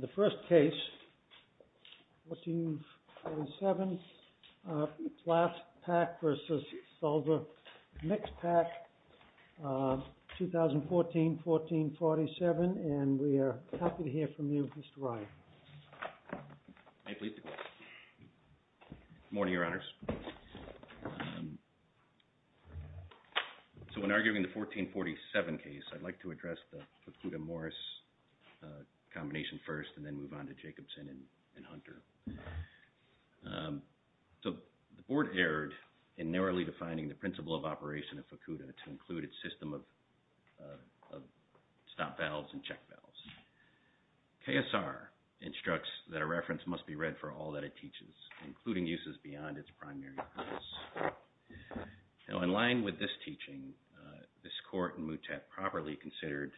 The first case, 14-7, Plas-Pak v. Sulzer Mixpac AG 2014-14-47, and we are happy to hear from you, Mr. Wright. May I please begin? Good morning, Your Honors. So when arguing the 14-47 case, I'd like to address the Fukuda-Morris combination first and then move on to Jacobson and Hunter. So the Board erred in narrowly defining the principle of operation of Fukuda to include its system of stop valves and check valves. KSR instructs that a reference must be read for all that it teaches, including uses beyond its primary purpose. Now, in line with this teaching, this court in MUTET properly considered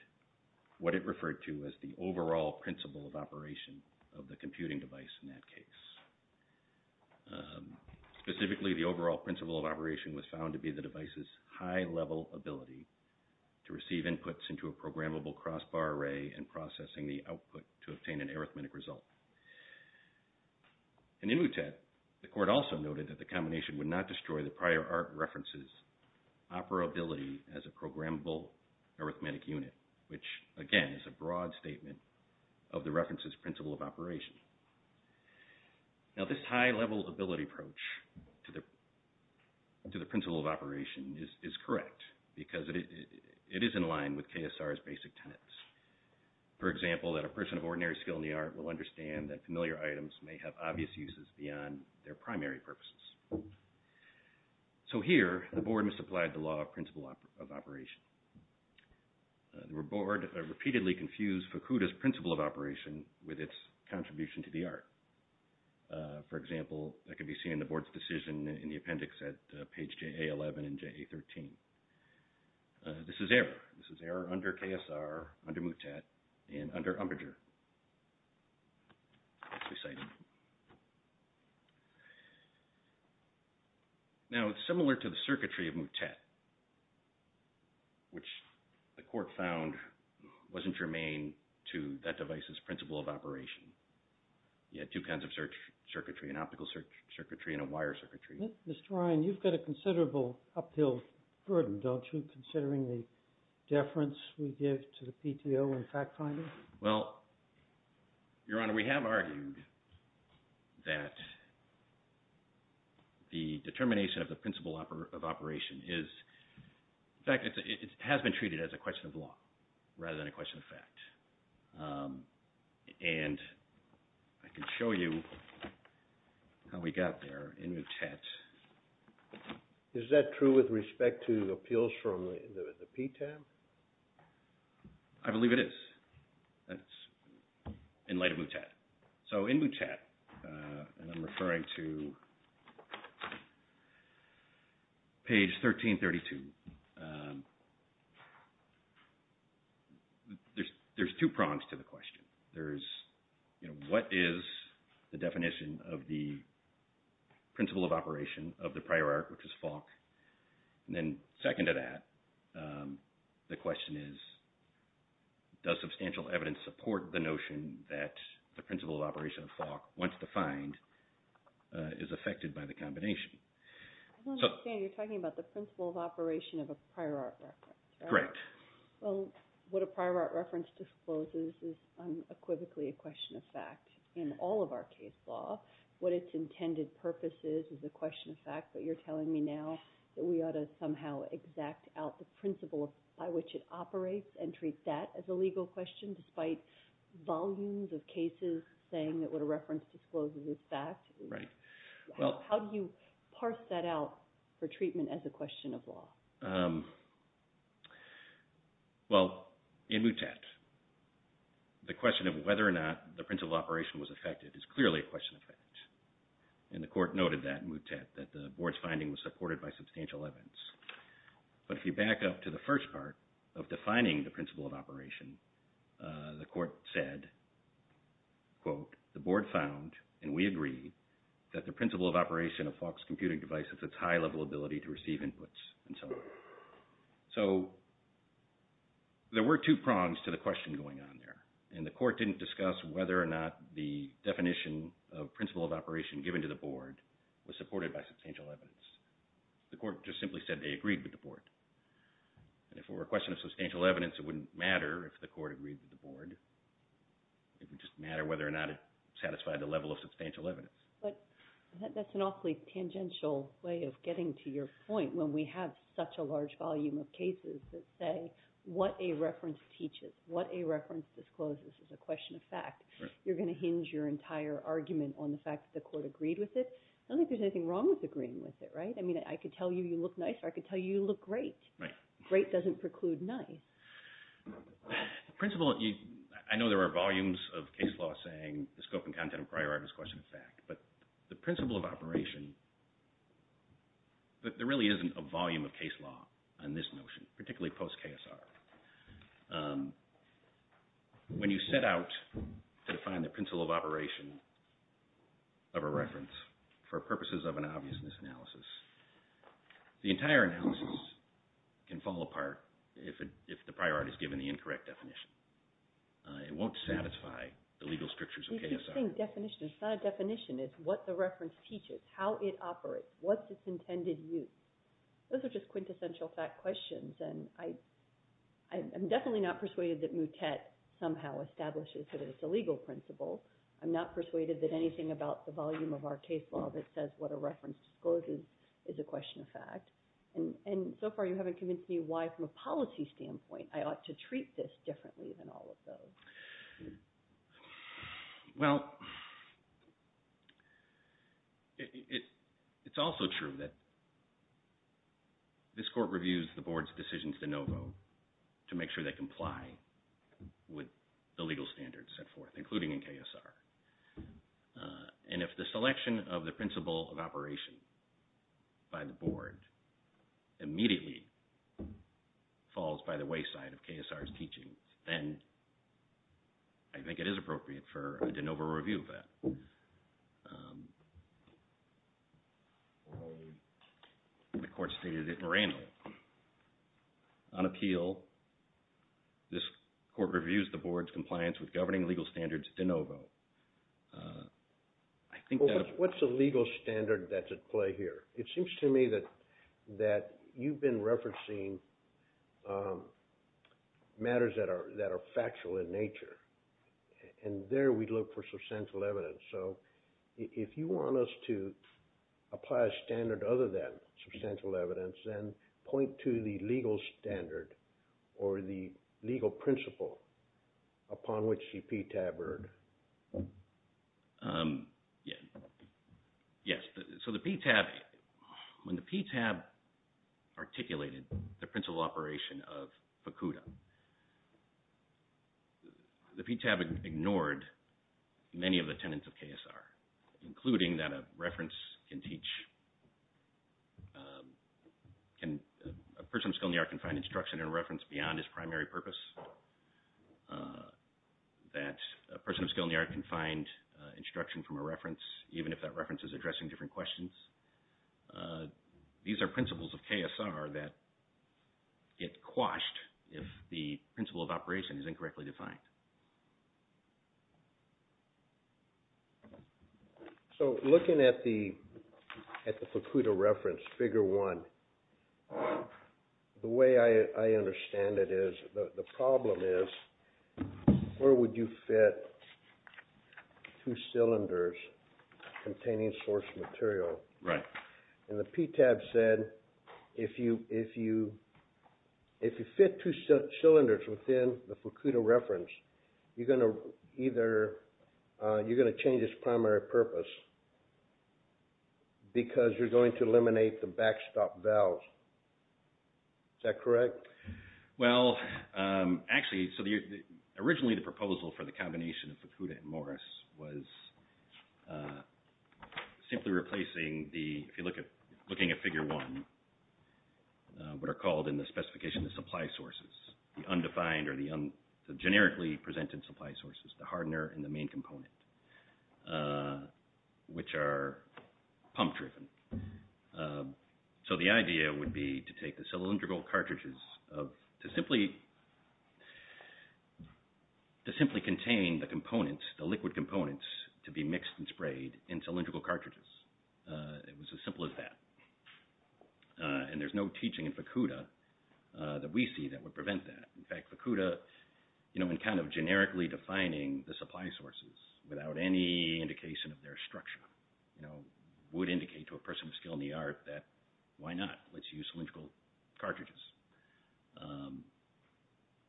what it referred to as the overall principle of operation of the computing device in that case. Specifically, the overall principle of operation was found to be the device's high-level ability to receive inputs into a programmable crossbar array and processing the output to obtain an arithmetic result. In MUTET, the court also noted that the combination would not destroy the prior art reference's operability as a programmable arithmetic unit, which, again, is a broad statement of the reference's principle of operation. Now, this high-level ability approach to the principle of operation is correct because it is in line with KSR's basic tenets. For example, that a person of ordinary skill in the art will understand that familiar items may have obvious uses beyond their primary purposes. So here, the Board misapplied the law of principle of operation. The Board repeatedly confused Fukuda's principle of operation with its contribution to the art. For example, that can be seen in the Board's decision in the appendix at page JA11 and JA13. This is error. This is error under KSR, under MUTET, and under UMBRDUR. Now, it's similar to the circuitry of MUTET, which the court found wasn't germane to that device's principle of operation. You had two kinds of circuitry, an optical circuitry and a wire circuitry. Mr. Ryan, you've got a considerable uphill burden, don't you, considering the deference we give to the PTO in fact-finding? Well, Your Honor, we have argued that the determination of the principle of operation is – in fact, it has been treated as a question of law rather than a question of fact. And I can show you how we got there in MUTET. Is that true with respect to appeals from the PTAB? I believe it is. That's in light of MUTET. So in MUTET, and I'm referring to page 1332, there's two prongs to the question. There's, you know, what is the definition of the principle of operation of the prior art, which is Falk? And then second to that, the question is, does substantial evidence support the notion that the principle of operation of Falk, once defined, is affected by the combination? I don't understand. You're talking about the principle of operation of a prior art reference, right? Correct. Well, what a prior art reference discloses is unequivocally a question of fact in all of our case law. What its intended purpose is is a question of fact, but you're telling me now that we ought to somehow exact out the principle by which it operates and treat that as a legal question, despite volumes of cases saying that what a reference discloses is fact? Right. How do you parse that out for treatment as a question of law? Well, in MUTET, the question of whether or not the principle of operation was affected is clearly a question of fact. And the court noted that in MUTET, that the board's finding was supported by substantial evidence. But if you back up to the first part of defining the principle of operation, the court said, quote, the board found, and we agree, that the principle of operation of Falk's computing device is its high-level ability to receive inputs, and so on. So there were two prongs to the question going on there, and the court didn't discuss whether or not the definition of principle of operation given to the board was supported by substantial evidence. The court just simply said they agreed with the board. And if it were a question of substantial evidence, it wouldn't matter if the court agreed with the board. It would just matter whether or not it satisfied the level of substantial evidence. But that's an awfully tangential way of getting to your point when we have such a large volume of cases that say what a reference teaches, what a reference discloses is a question of fact. You're going to hinge your entire argument on the fact that the court agreed with it? I don't think there's anything wrong with agreeing with it, right? I mean, I could tell you you look nice, or I could tell you you look great. Great doesn't preclude nice. The principle – I know there are volumes of case law saying the scope and content of priority is a question of fact. But the principle of operation – there really isn't a volume of case law on this notion, particularly post-KSR. When you set out to define the principle of operation of a reference for purposes of an obviousness analysis, the entire analysis can fall apart if the priority is given the incorrect definition. It won't satisfy the legal strictures of KSR. It's the same definition. It's not a definition. It's what the reference teaches, how it operates, what's its intended use. Those are just quintessential fact questions, and I'm definitely not persuaded that Moutet somehow establishes that it's a legal principle. I'm not persuaded that anything about the volume of our case law that says what a reference discloses is a question of fact. And so far, you haven't convinced me why, from a policy standpoint, I ought to treat this differently than all of those. Well, it's also true that this court reviews the board's decisions de novo to make sure they comply with the legal standards set forth, including in KSR. And if the selection of the principle of operation by the board immediately falls by the wayside of KSR's teaching, then I think it is appropriate for a de novo review of that. And the court stated it more annually. On appeal, this court reviews the board's compliance with governing legal standards de novo. What's the legal standard that's at play here? It seems to me that you've been referencing matters that are factual in nature, and there we look for substantial evidence. So if you want us to apply a standard other than substantial evidence, then point to the legal standard or the legal principle upon which the PTAB erred. Yes. So the PTAB, when the PTAB articulated the principle of operation of FACUDA, the PTAB ignored many of the tenets of KSR, including that a reference can teach, a person of skill in the art can find instruction and reference beyond his primary purpose, that a person of skill in the art can find instruction from a reference, even if that reference is addressing different questions. These are principles of KSR that get quashed if the principle of operation is incorrectly defined. So looking at the FACUDA reference, figure one, the way I understand it is, the problem is, where would you fit two cylinders containing source material? Right. And the PTAB said, if you fit two cylinders within the FACUDA reference, you're going to change its primary purpose because you're going to eliminate the backstop valves. Is that correct? Well, actually, so originally the proposal for the combination of FACUDA and Morris was simply replacing the, if you're looking at figure one, what are called in the specification the supply sources, the undefined or the generically presented supply sources, the hardener and the main component, which are pump driven. So the idea would be to take the cylindrical cartridges to simply contain the components, the liquid components, to be mixed and sprayed in cylindrical cartridges. It was as simple as that. And there's no teaching in FACUDA that we see that would prevent that. In fact, FACUDA, you know, in kind of generically defining the supply sources without any indication of their structure, you know, would indicate to a person of skill in the art that, why not? Let's use cylindrical cartridges.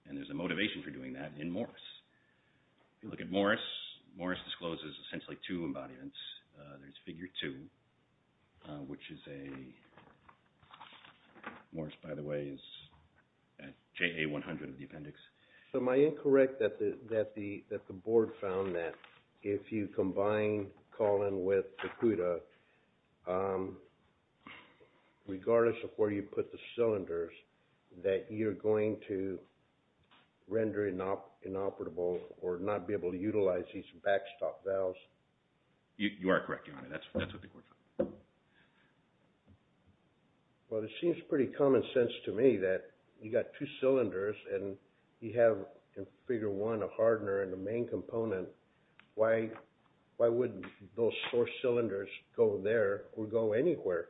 And there's a motivation for doing that in Morris. If you look at Morris, Morris discloses essentially two embodiments. There's figure two, which is a, Morris, by the way, is JA100 of the appendix. So am I incorrect that the board found that if you combine Collin with FACUDA, regardless of where you put the cylinders, that you're going to render inoperable or not be able to utilize these backstop valves? You are correct, Your Honor. That's what the board found. Well, it seems pretty common sense to me that you've got two cylinders and you have in figure one a hardener in the main component. Why wouldn't those four cylinders go there or go anywhere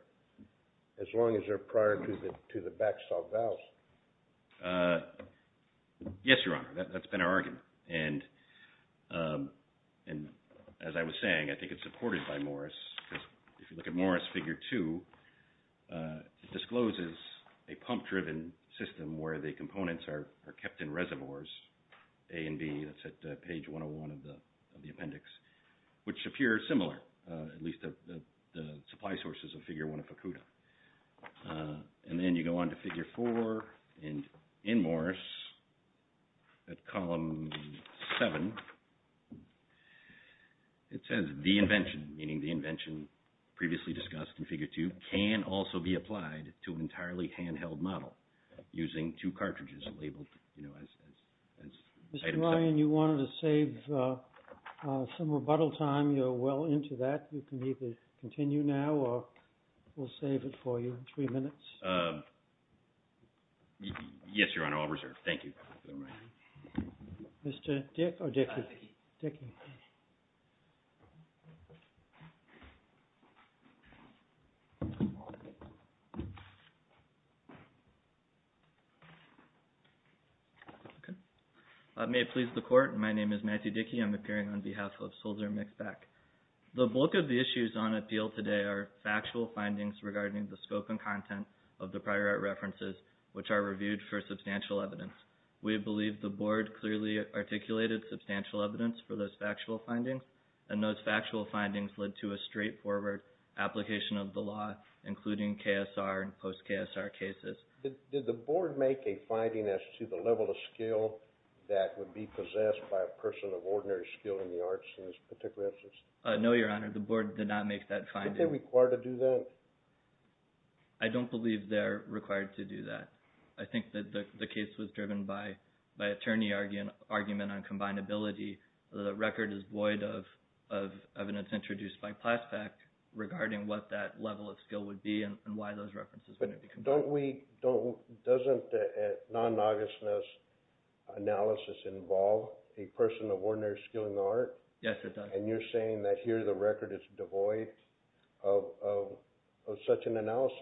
as long as they're prior to the backstop valves? Yes, Your Honor. That's been our argument. And as I was saying, I think it's supported by Morris. If you look at Morris figure two, it discloses a pump-driven system where the components are kept in reservoirs, A and B. That's at page 101 of the appendix, which appear similar, at least the supply sources of figure one of FACUDA. And then you go on to figure four. And in Morris, at column seven, it says the invention, meaning the invention previously discussed in figure two, can also be applied to an entirely handheld model using two cartridges labeled as items. Mr. Ryan, you wanted to save some rebuttal time. You're well into that. You can either continue now or we'll save it for you in three minutes. Yes, Your Honor. I'll reserve. Thank you. Mr. Dick or Dickie? Dickie. May it please the Court. My name is Matthew Dickie. I'm appearing on behalf of Soldier Mix-Back. The bulk of the issues on appeal today are factual findings regarding the scope and content of the prior art references, which are reviewed for substantial evidence. We believe the Board clearly articulated substantial evidence for those factual findings, and those factual findings led to a straightforward application of the law, including KSR and post-KSR cases. Did the Board make a finding as to the level of skill that would be possessed by a person of ordinary skill in the arts in this particular instance? No, Your Honor. The Board did not make that finding. Are they required to do that? I don't believe they're required to do that. I think that the case was driven by attorney argument on combinability. The record is void of evidence introduced by PLASPAC regarding what that level of skill would be and why those references wouldn't be. Doesn't non-nogginess analysis involve a person of ordinary skill in the art? Yes, it does. And you're saying that here the record is devoid of such an analysis?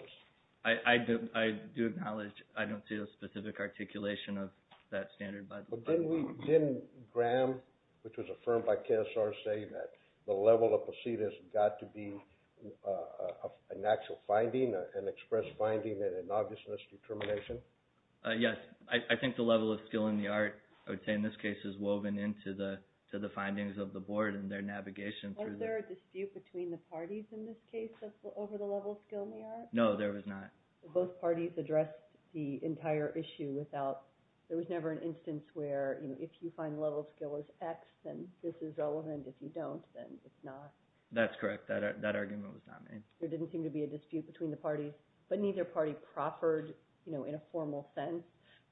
I do acknowledge I don't see a specific articulation of that standard by the Board. But didn't Graham, which was affirmed by KSR, say that the level of possession has got to be an actual finding, an express finding, and an obvious misdetermination? Yes. I think the level of skill in the art, I would say in this case, is woven into the findings of the Board and their navigation. Was there a dispute between the parties in this case over the level of skill in the art? No, there was not. Both parties addressed the entire issue without – there was never an instance where, you know, if you find level of skill is X, then this is relevant. If you don't, then it's not. That's correct. That argument was not made. There didn't seem to be a dispute between the parties, but neither party proffered, you know, in a formal sense,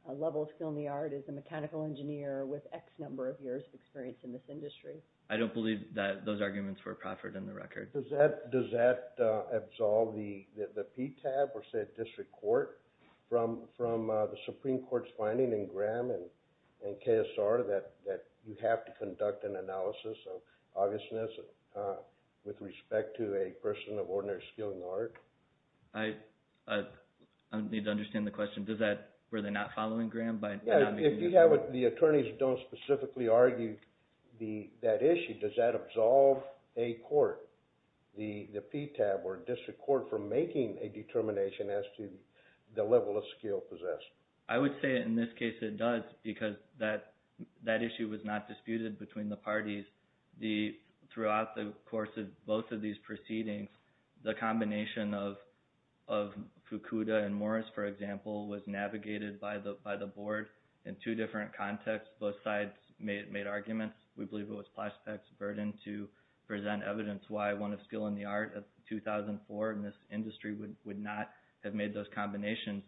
level of skill in the art is a mechanical engineer with X number of years of experience in this industry. I don't believe that those arguments were proffered in the record. Does that absolve the PTAB or, say, a district court from the Supreme Court's finding in Graham and KSR that you have to conduct an analysis of obviousness with respect to a person of ordinary skill in the art? I need to understand the question. Were they not following Graham? If the attorneys don't specifically argue that issue, does that absolve a court, the PTAB or district court, from making a determination as to the level of skill possessed? I would say in this case it does because that issue was not disputed between the parties. Throughout the course of both of these proceedings, the combination of Fukuda and Morris, for example, was navigated by the board in two different contexts. Both sides made arguments. We believe it was Plaszczak's burden to present evidence why one of skill in the art of 2004 in this industry would not have made those combinations.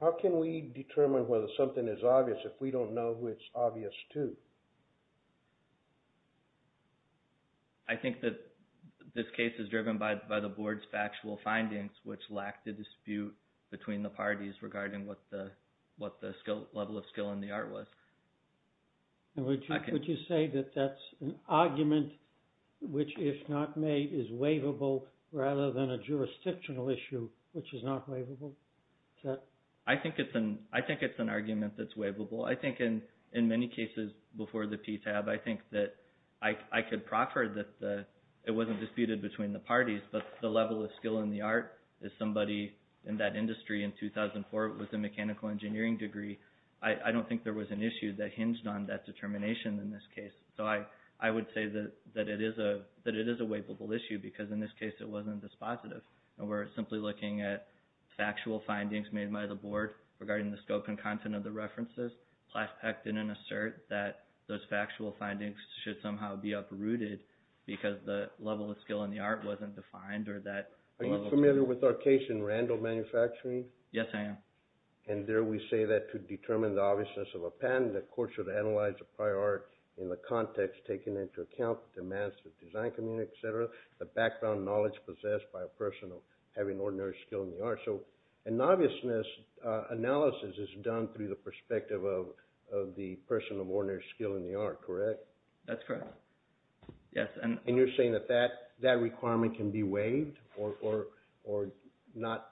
How can we determine whether something is obvious if we don't know who it's obvious to? I think that this case is driven by the board's factual findings, which lack the dispute between the parties regarding what the level of skill in the art was. Would you say that that's an argument which, if not made, is waivable rather than a jurisdictional issue which is not waivable? I think it's an argument that's waivable. I think in many cases before the PTAB, I think that I could proffer that it wasn't disputed between the parties, but the level of skill in the art, if somebody in that industry in 2004 was a mechanical engineering degree, I don't think there was an issue that hinged on that determination in this case. So I would say that it is a waivable issue because in this case it wasn't dispositive. And we're simply looking at factual findings made by the board regarding the scope and content of the references. Plaszczak didn't assert that those factual findings should somehow be uprooted because the level of skill in the art wasn't defined or that the level of skill in the art wasn't defined. Are you familiar with our case in Randall Manufacturing? Yes, I am. And there we say that to determine the obviousness of a patent, the court should analyze the prior art in the context taken into account, the demands to the design community, et cetera, the background knowledge possessed by a person of having ordinary skill in the art. So an obviousness analysis is done through the perspective of the person of ordinary skill in the art, correct? That's correct. And you're saying that that requirement can be waived or not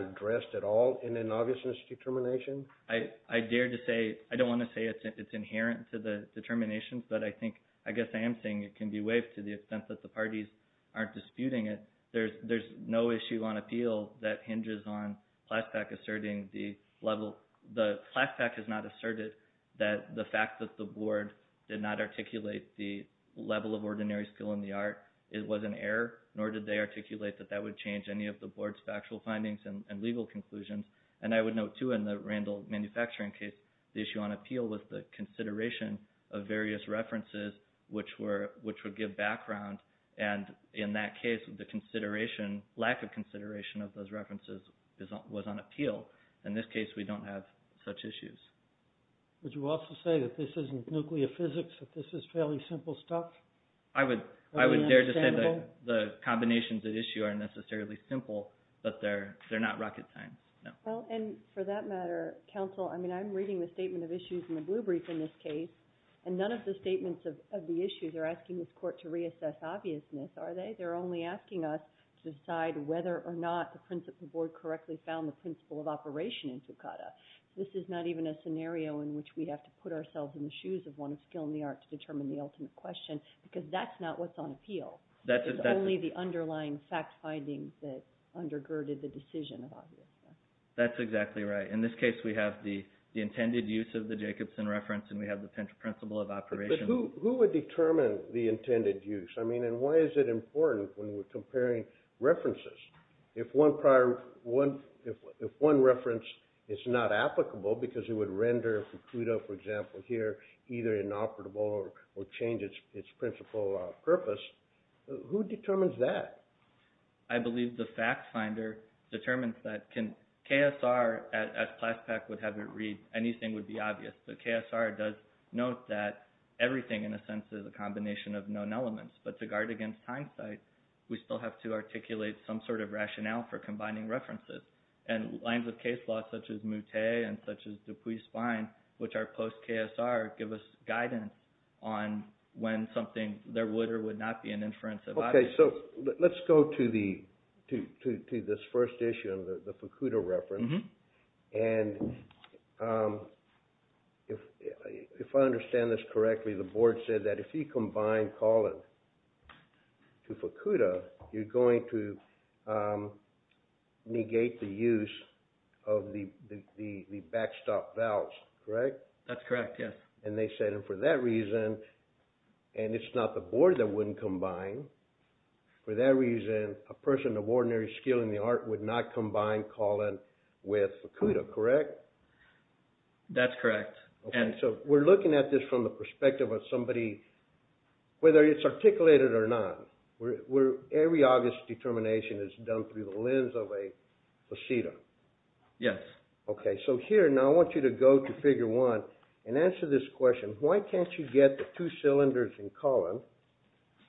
addressed at all in an obviousness determination? I dare to say, I don't want to say it's inherent to the determination, but I guess I am saying it can be waived to the extent that the parties aren't disputing it. There's no issue on appeal that hinges on Plaszczak asserting the level. Plaszczak has not asserted that the fact that the board did not articulate the level of ordinary skill in the art was an error, nor did they articulate that that would change any of the board's factual findings and legal conclusions. And I would note, too, in the Randall Manufacturing case, the issue on appeal was the consideration of various references, which would give background. And in that case, the lack of consideration of those references was on appeal. In this case, we don't have such issues. Would you also say that this isn't nuclear physics, that this is fairly simple stuff? I would dare to say the combinations at issue aren't necessarily simple, but they're not rocket science. Well, and for that matter, counsel, I mean, I'm reading the statement of issues in the blue brief in this case, and none of the statements of the issues are asking this court to reassess obviousness, are they? They're only asking us to decide whether or not the principle board correctly found the principle of operation in Fukada. This is not even a scenario in which we have to put ourselves in the shoes of one of skill in the art to determine the ultimate question, because that's not what's on appeal. It's only the underlying fact findings that undergirded the decision of obviousness. That's exactly right. In this case, we have the intended use of the Jacobson reference, and we have the principle of operation. But who would determine the intended use? I mean, and why is it important when we're comparing references? If one reference is not applicable because it would render Fukuda, for example, here, either inoperable or change its principle of purpose, who determines that? I believe the fact finder determines that. KSR, as Plaspec would have it read, anything would be obvious. The KSR does note that everything, in a sense, is a combination of known elements. But to guard against hindsight, we still have to articulate some sort of rationale for combining references. And lines of case law such as Moutet and such as Dupuis-Spine, which are post-KSR, give us guidance on when something, there would or would not be an inference of obviousness. Okay, so let's go to this first issue, the Fukuda reference. And if I understand this correctly, the board said that if you combine Collin to Fukuda, you're going to negate the use of the backstop valves, correct? That's correct, yes. And they said, and for that reason, and it's not the board that wouldn't combine, for that reason, a person of ordinary skill in the art would not combine Collin with Fukuda, correct? That's correct. Okay, so we're looking at this from the perspective of somebody, whether it's articulated or not. Every August determination is done through the lens of a facetum. Yes. Okay, so here, now I want you to go to Figure 1 and answer this question. Why can't you get the two cylinders in Collin,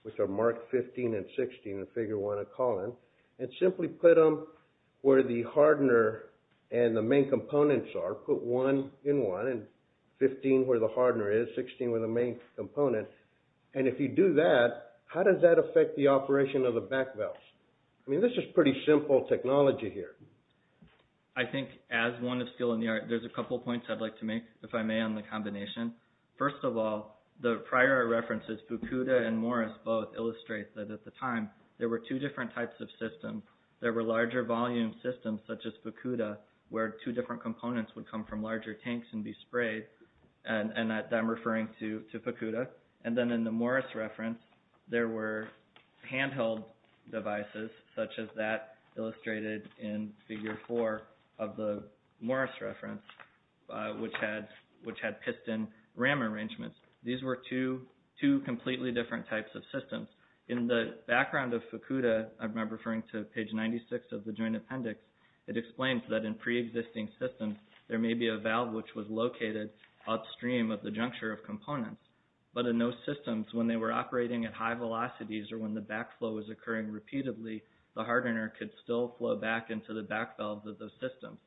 which are Mark 15 and 16 in Figure 1 of Collin, and simply put them where the hardener and the main components are, put one in one, and 15 where the hardener is, 16 where the main component. And if you do that, how does that affect the operation of the back valves? I mean, this is pretty simple technology here. I think as one of skill in the art, there's a couple points I'd like to make, if I may, on the combination. First of all, the prior references, Fukuda and Morris both illustrate that at the time, there were two different types of systems. There were larger volume systems, such as Fukuda, where two different components would come from larger tanks and be sprayed, and I'm referring to Fukuda. And then in the Morris reference, there were handheld devices, such as that illustrated in Figure 4 of the Morris reference, which had piston RAM arrangements. These were two completely different types of systems. In the background of Fukuda, I remember referring to page 96 of the Joint Appendix, it explains that in preexisting systems, there may be a valve which was located upstream of the juncture of components. But in those systems, when they were operating at high velocities or when the backflow was occurring repeatedly, the hardener could still flow back into the back valves of those systems.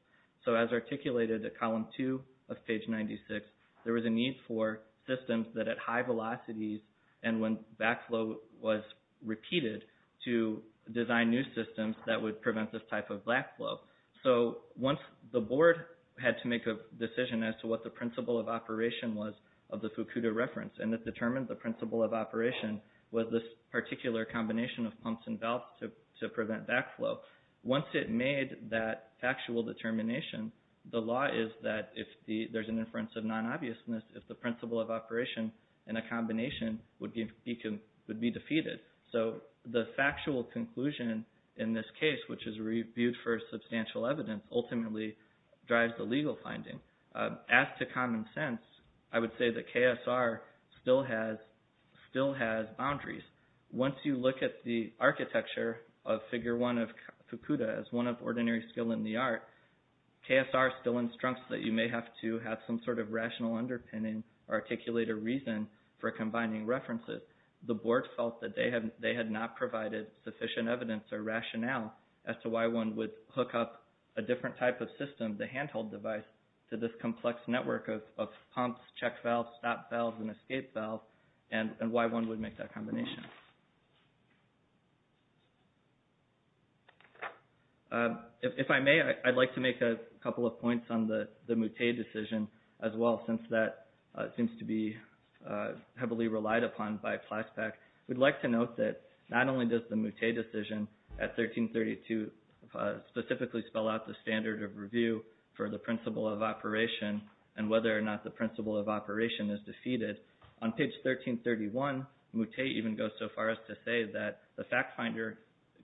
So as articulated at column 2 of page 96, there was a need for systems that at high velocities and when backflow was repeated, to design new systems that would prevent this type of backflow. So once the board had to make a decision as to what the principle of operation was of the Fukuda reference, and it determined the principle of operation was this particular combination of pumps and valves to prevent backflow. Once it made that factual determination, the law is that if there's an inference of non-obviousness, if the principle of operation in a combination would be defeated. So the factual conclusion in this case, which is reviewed for substantial evidence, ultimately drives the legal finding. As to common sense, I would say that KSR still has boundaries. Once you look at the architecture of Figure 1 of Fukuda as one of ordinary skill in the art, KSR still instructs that you may have to have some sort of rational underpinning or articulated reason for combining references. The board felt that they had not provided sufficient evidence or rationale as to why one would hook up a different type of system, the handheld device, to this complex network of pumps, check valves, stop valves, and escape valves, and why one would make that combination. If I may, I'd like to make a couple of points on the Moutet decision as well, since that seems to be heavily relied upon by PLASPAC. We'd like to note that not only does the Moutet decision at 1332 specifically spell out the standard of review for the principle of operation and whether or not the principle of operation is defeated, On page 1331, Moutet even goes so far as to say that the fact finder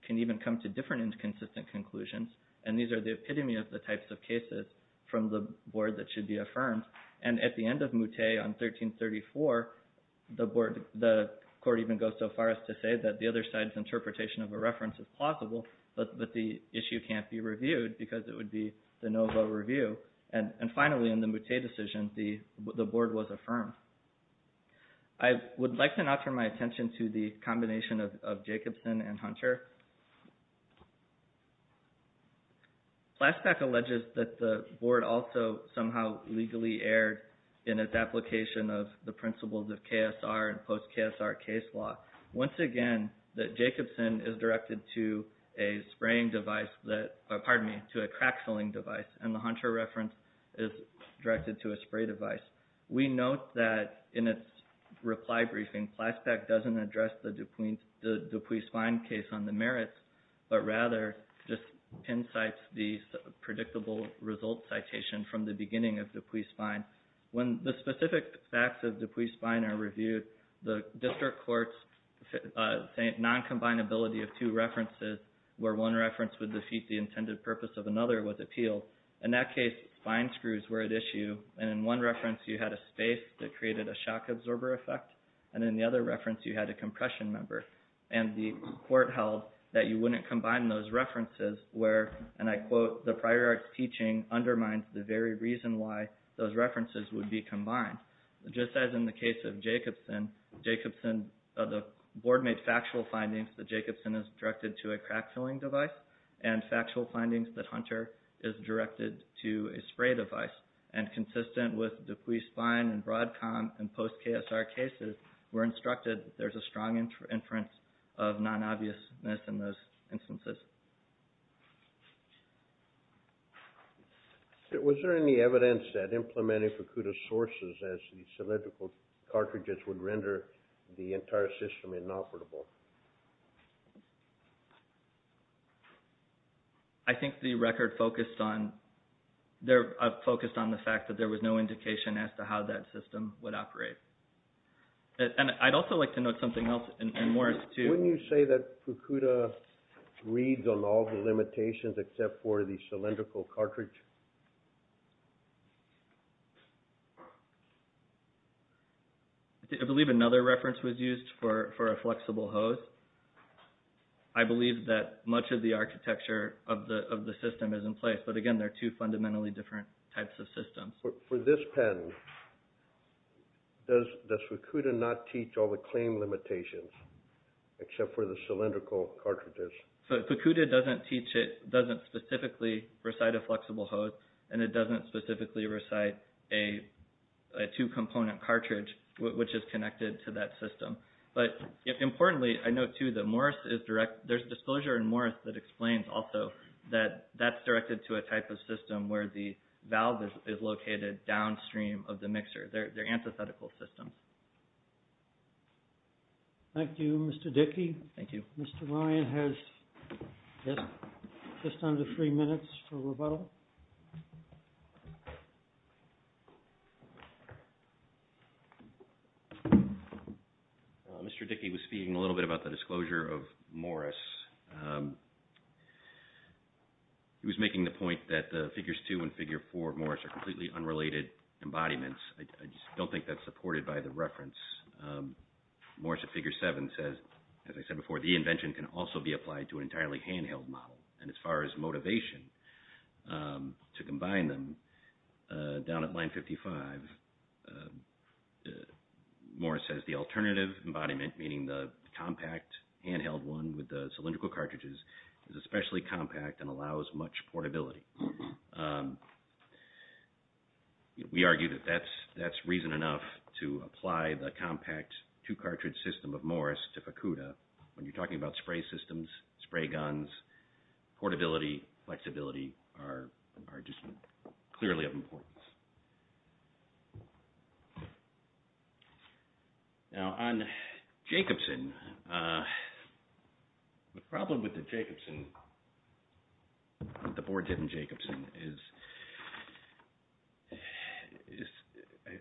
can even come to different inconsistent conclusions, and these are the epitome of the types of cases from the board that should be affirmed. At the end of Moutet, on 1334, the court even goes so far as to say that the other side's interpretation of a reference is plausible, but the issue can't be reviewed because it would be the no-vote review. And finally, in the Moutet decision, the board was affirmed. I would like to now turn my attention to the combination of Jacobson and Hunter. PLASPAC alleges that the board also somehow legally erred in its application of the principles of KSR and post-KSR case law. Once again, the Jacobson is directed to a spraying device, pardon me, to a crack-filling device, and the Hunter reference is directed to a spray device. We note that in its reply briefing, PLASPAC doesn't address the DuPuis-Spine case on the merits, but rather just incites the predictable result citation from the beginning of DuPuis-Spine. When the specific facts of DuPuis-Spine are reviewed, the district court's non-combinability of two references, where one reference would defeat the intended purpose of another, was appealed. In that case, spine screws were at issue, and in one reference you had a space that created a shock absorber effect, and in the other reference you had a compression member. And the court held that you wouldn't combine those references where, and I quote, the prior arts teaching undermines the very reason why those references would be combined. Just as in the case of Jacobson, the board made factual findings that Jacobson is directed to a crack-filling device, and factual findings that Hunter is directed to a spray device. And consistent with DuPuis-Spine and Broadcom and post-KSR cases, we're instructed that there's a strong inference of non-obviousness in those instances. Was there any evidence that implementing Fukuda sources as the cylindrical cartridges would render the entire system inoperable? I think the record focused on the fact that there was no indication as to how that system would operate. And I'd also like to note something else, and Morris, too. Wouldn't you say that Fukuda reads on all the limitations except for the cylindrical cartridge? I believe another reference was used for a flexible hose. I believe that much of the architecture of the system is in place, but again, they're two fundamentally different types of systems. For this pen, does Fukuda not teach all the claim limitations except for the cylindrical cartridges? Fukuda doesn't teach it, doesn't specifically recite a flexible hose. And it doesn't specifically recite a two-component cartridge, which is connected to that system. But importantly, I note, too, that there's disclosure in Morris that explains, also, that that's directed to a type of system where the valve is located downstream of the mixer. They're antithetical systems. Thank you, Mr. Dickey. Thank you. Mr. Ryan has just under three minutes for rebuttal. Mr. Dickey was speaking a little bit about the disclosure of Morris. He was making the point that Figures 2 and Figure 4 of Morris are completely unrelated embodiments. I just don't think that's supported by the reference. Morris at Figure 7 says, as I said before, the invention can also be applied to an entirely handheld model. And as far as motivation to combine them, down at Line 55, Morris says, the alternative embodiment, meaning the compact handheld one with the cylindrical cartridges, is especially compact and allows much portability. We argue that that's reason enough to apply the compact two-cartridge system of Morris to Fukuda. When you're talking about spray systems, spray guns, portability, flexibility are just clearly of importance. Now, on Jacobson, the problem with the Jacobson, the board didn't Jacobson, is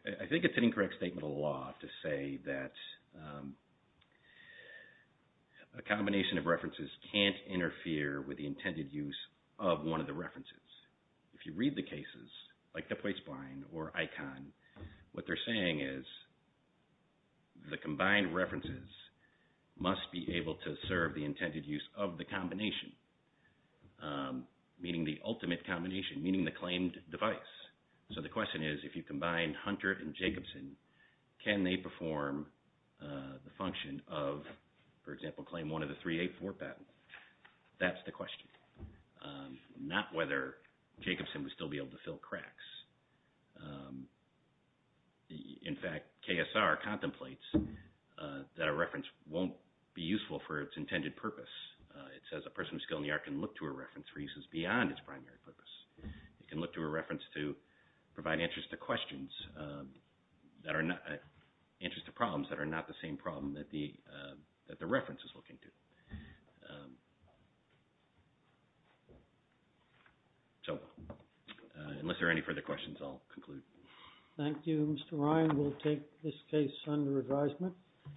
I think it's an incorrect statement of law to say that a combination of references can't interfere with the intended use of one of the references. If you read the cases, like the Placebine or ICON, what they're saying is, the combined references must be able to serve the intended use of the combination, meaning the ultimate combination, meaning the claimed device. So the question is, if you combine Hunter and Jacobson, can they perform the function of, for example, claim one of the 384 patents? That's the question. Not whether Jacobson would still be able to fill cracks. In fact, KSR contemplates that a reference won't be useful for its intended purpose. It says a person with skill in the art can look to a reference for uses beyond its primary purpose. It can look to a reference to provide answers to questions that are not, provide answers to problems that are not the same problem that the reference is looking to. So, unless there are any further questions, I'll conclude. Thank you. Mr. Ryan will take this case under advisement.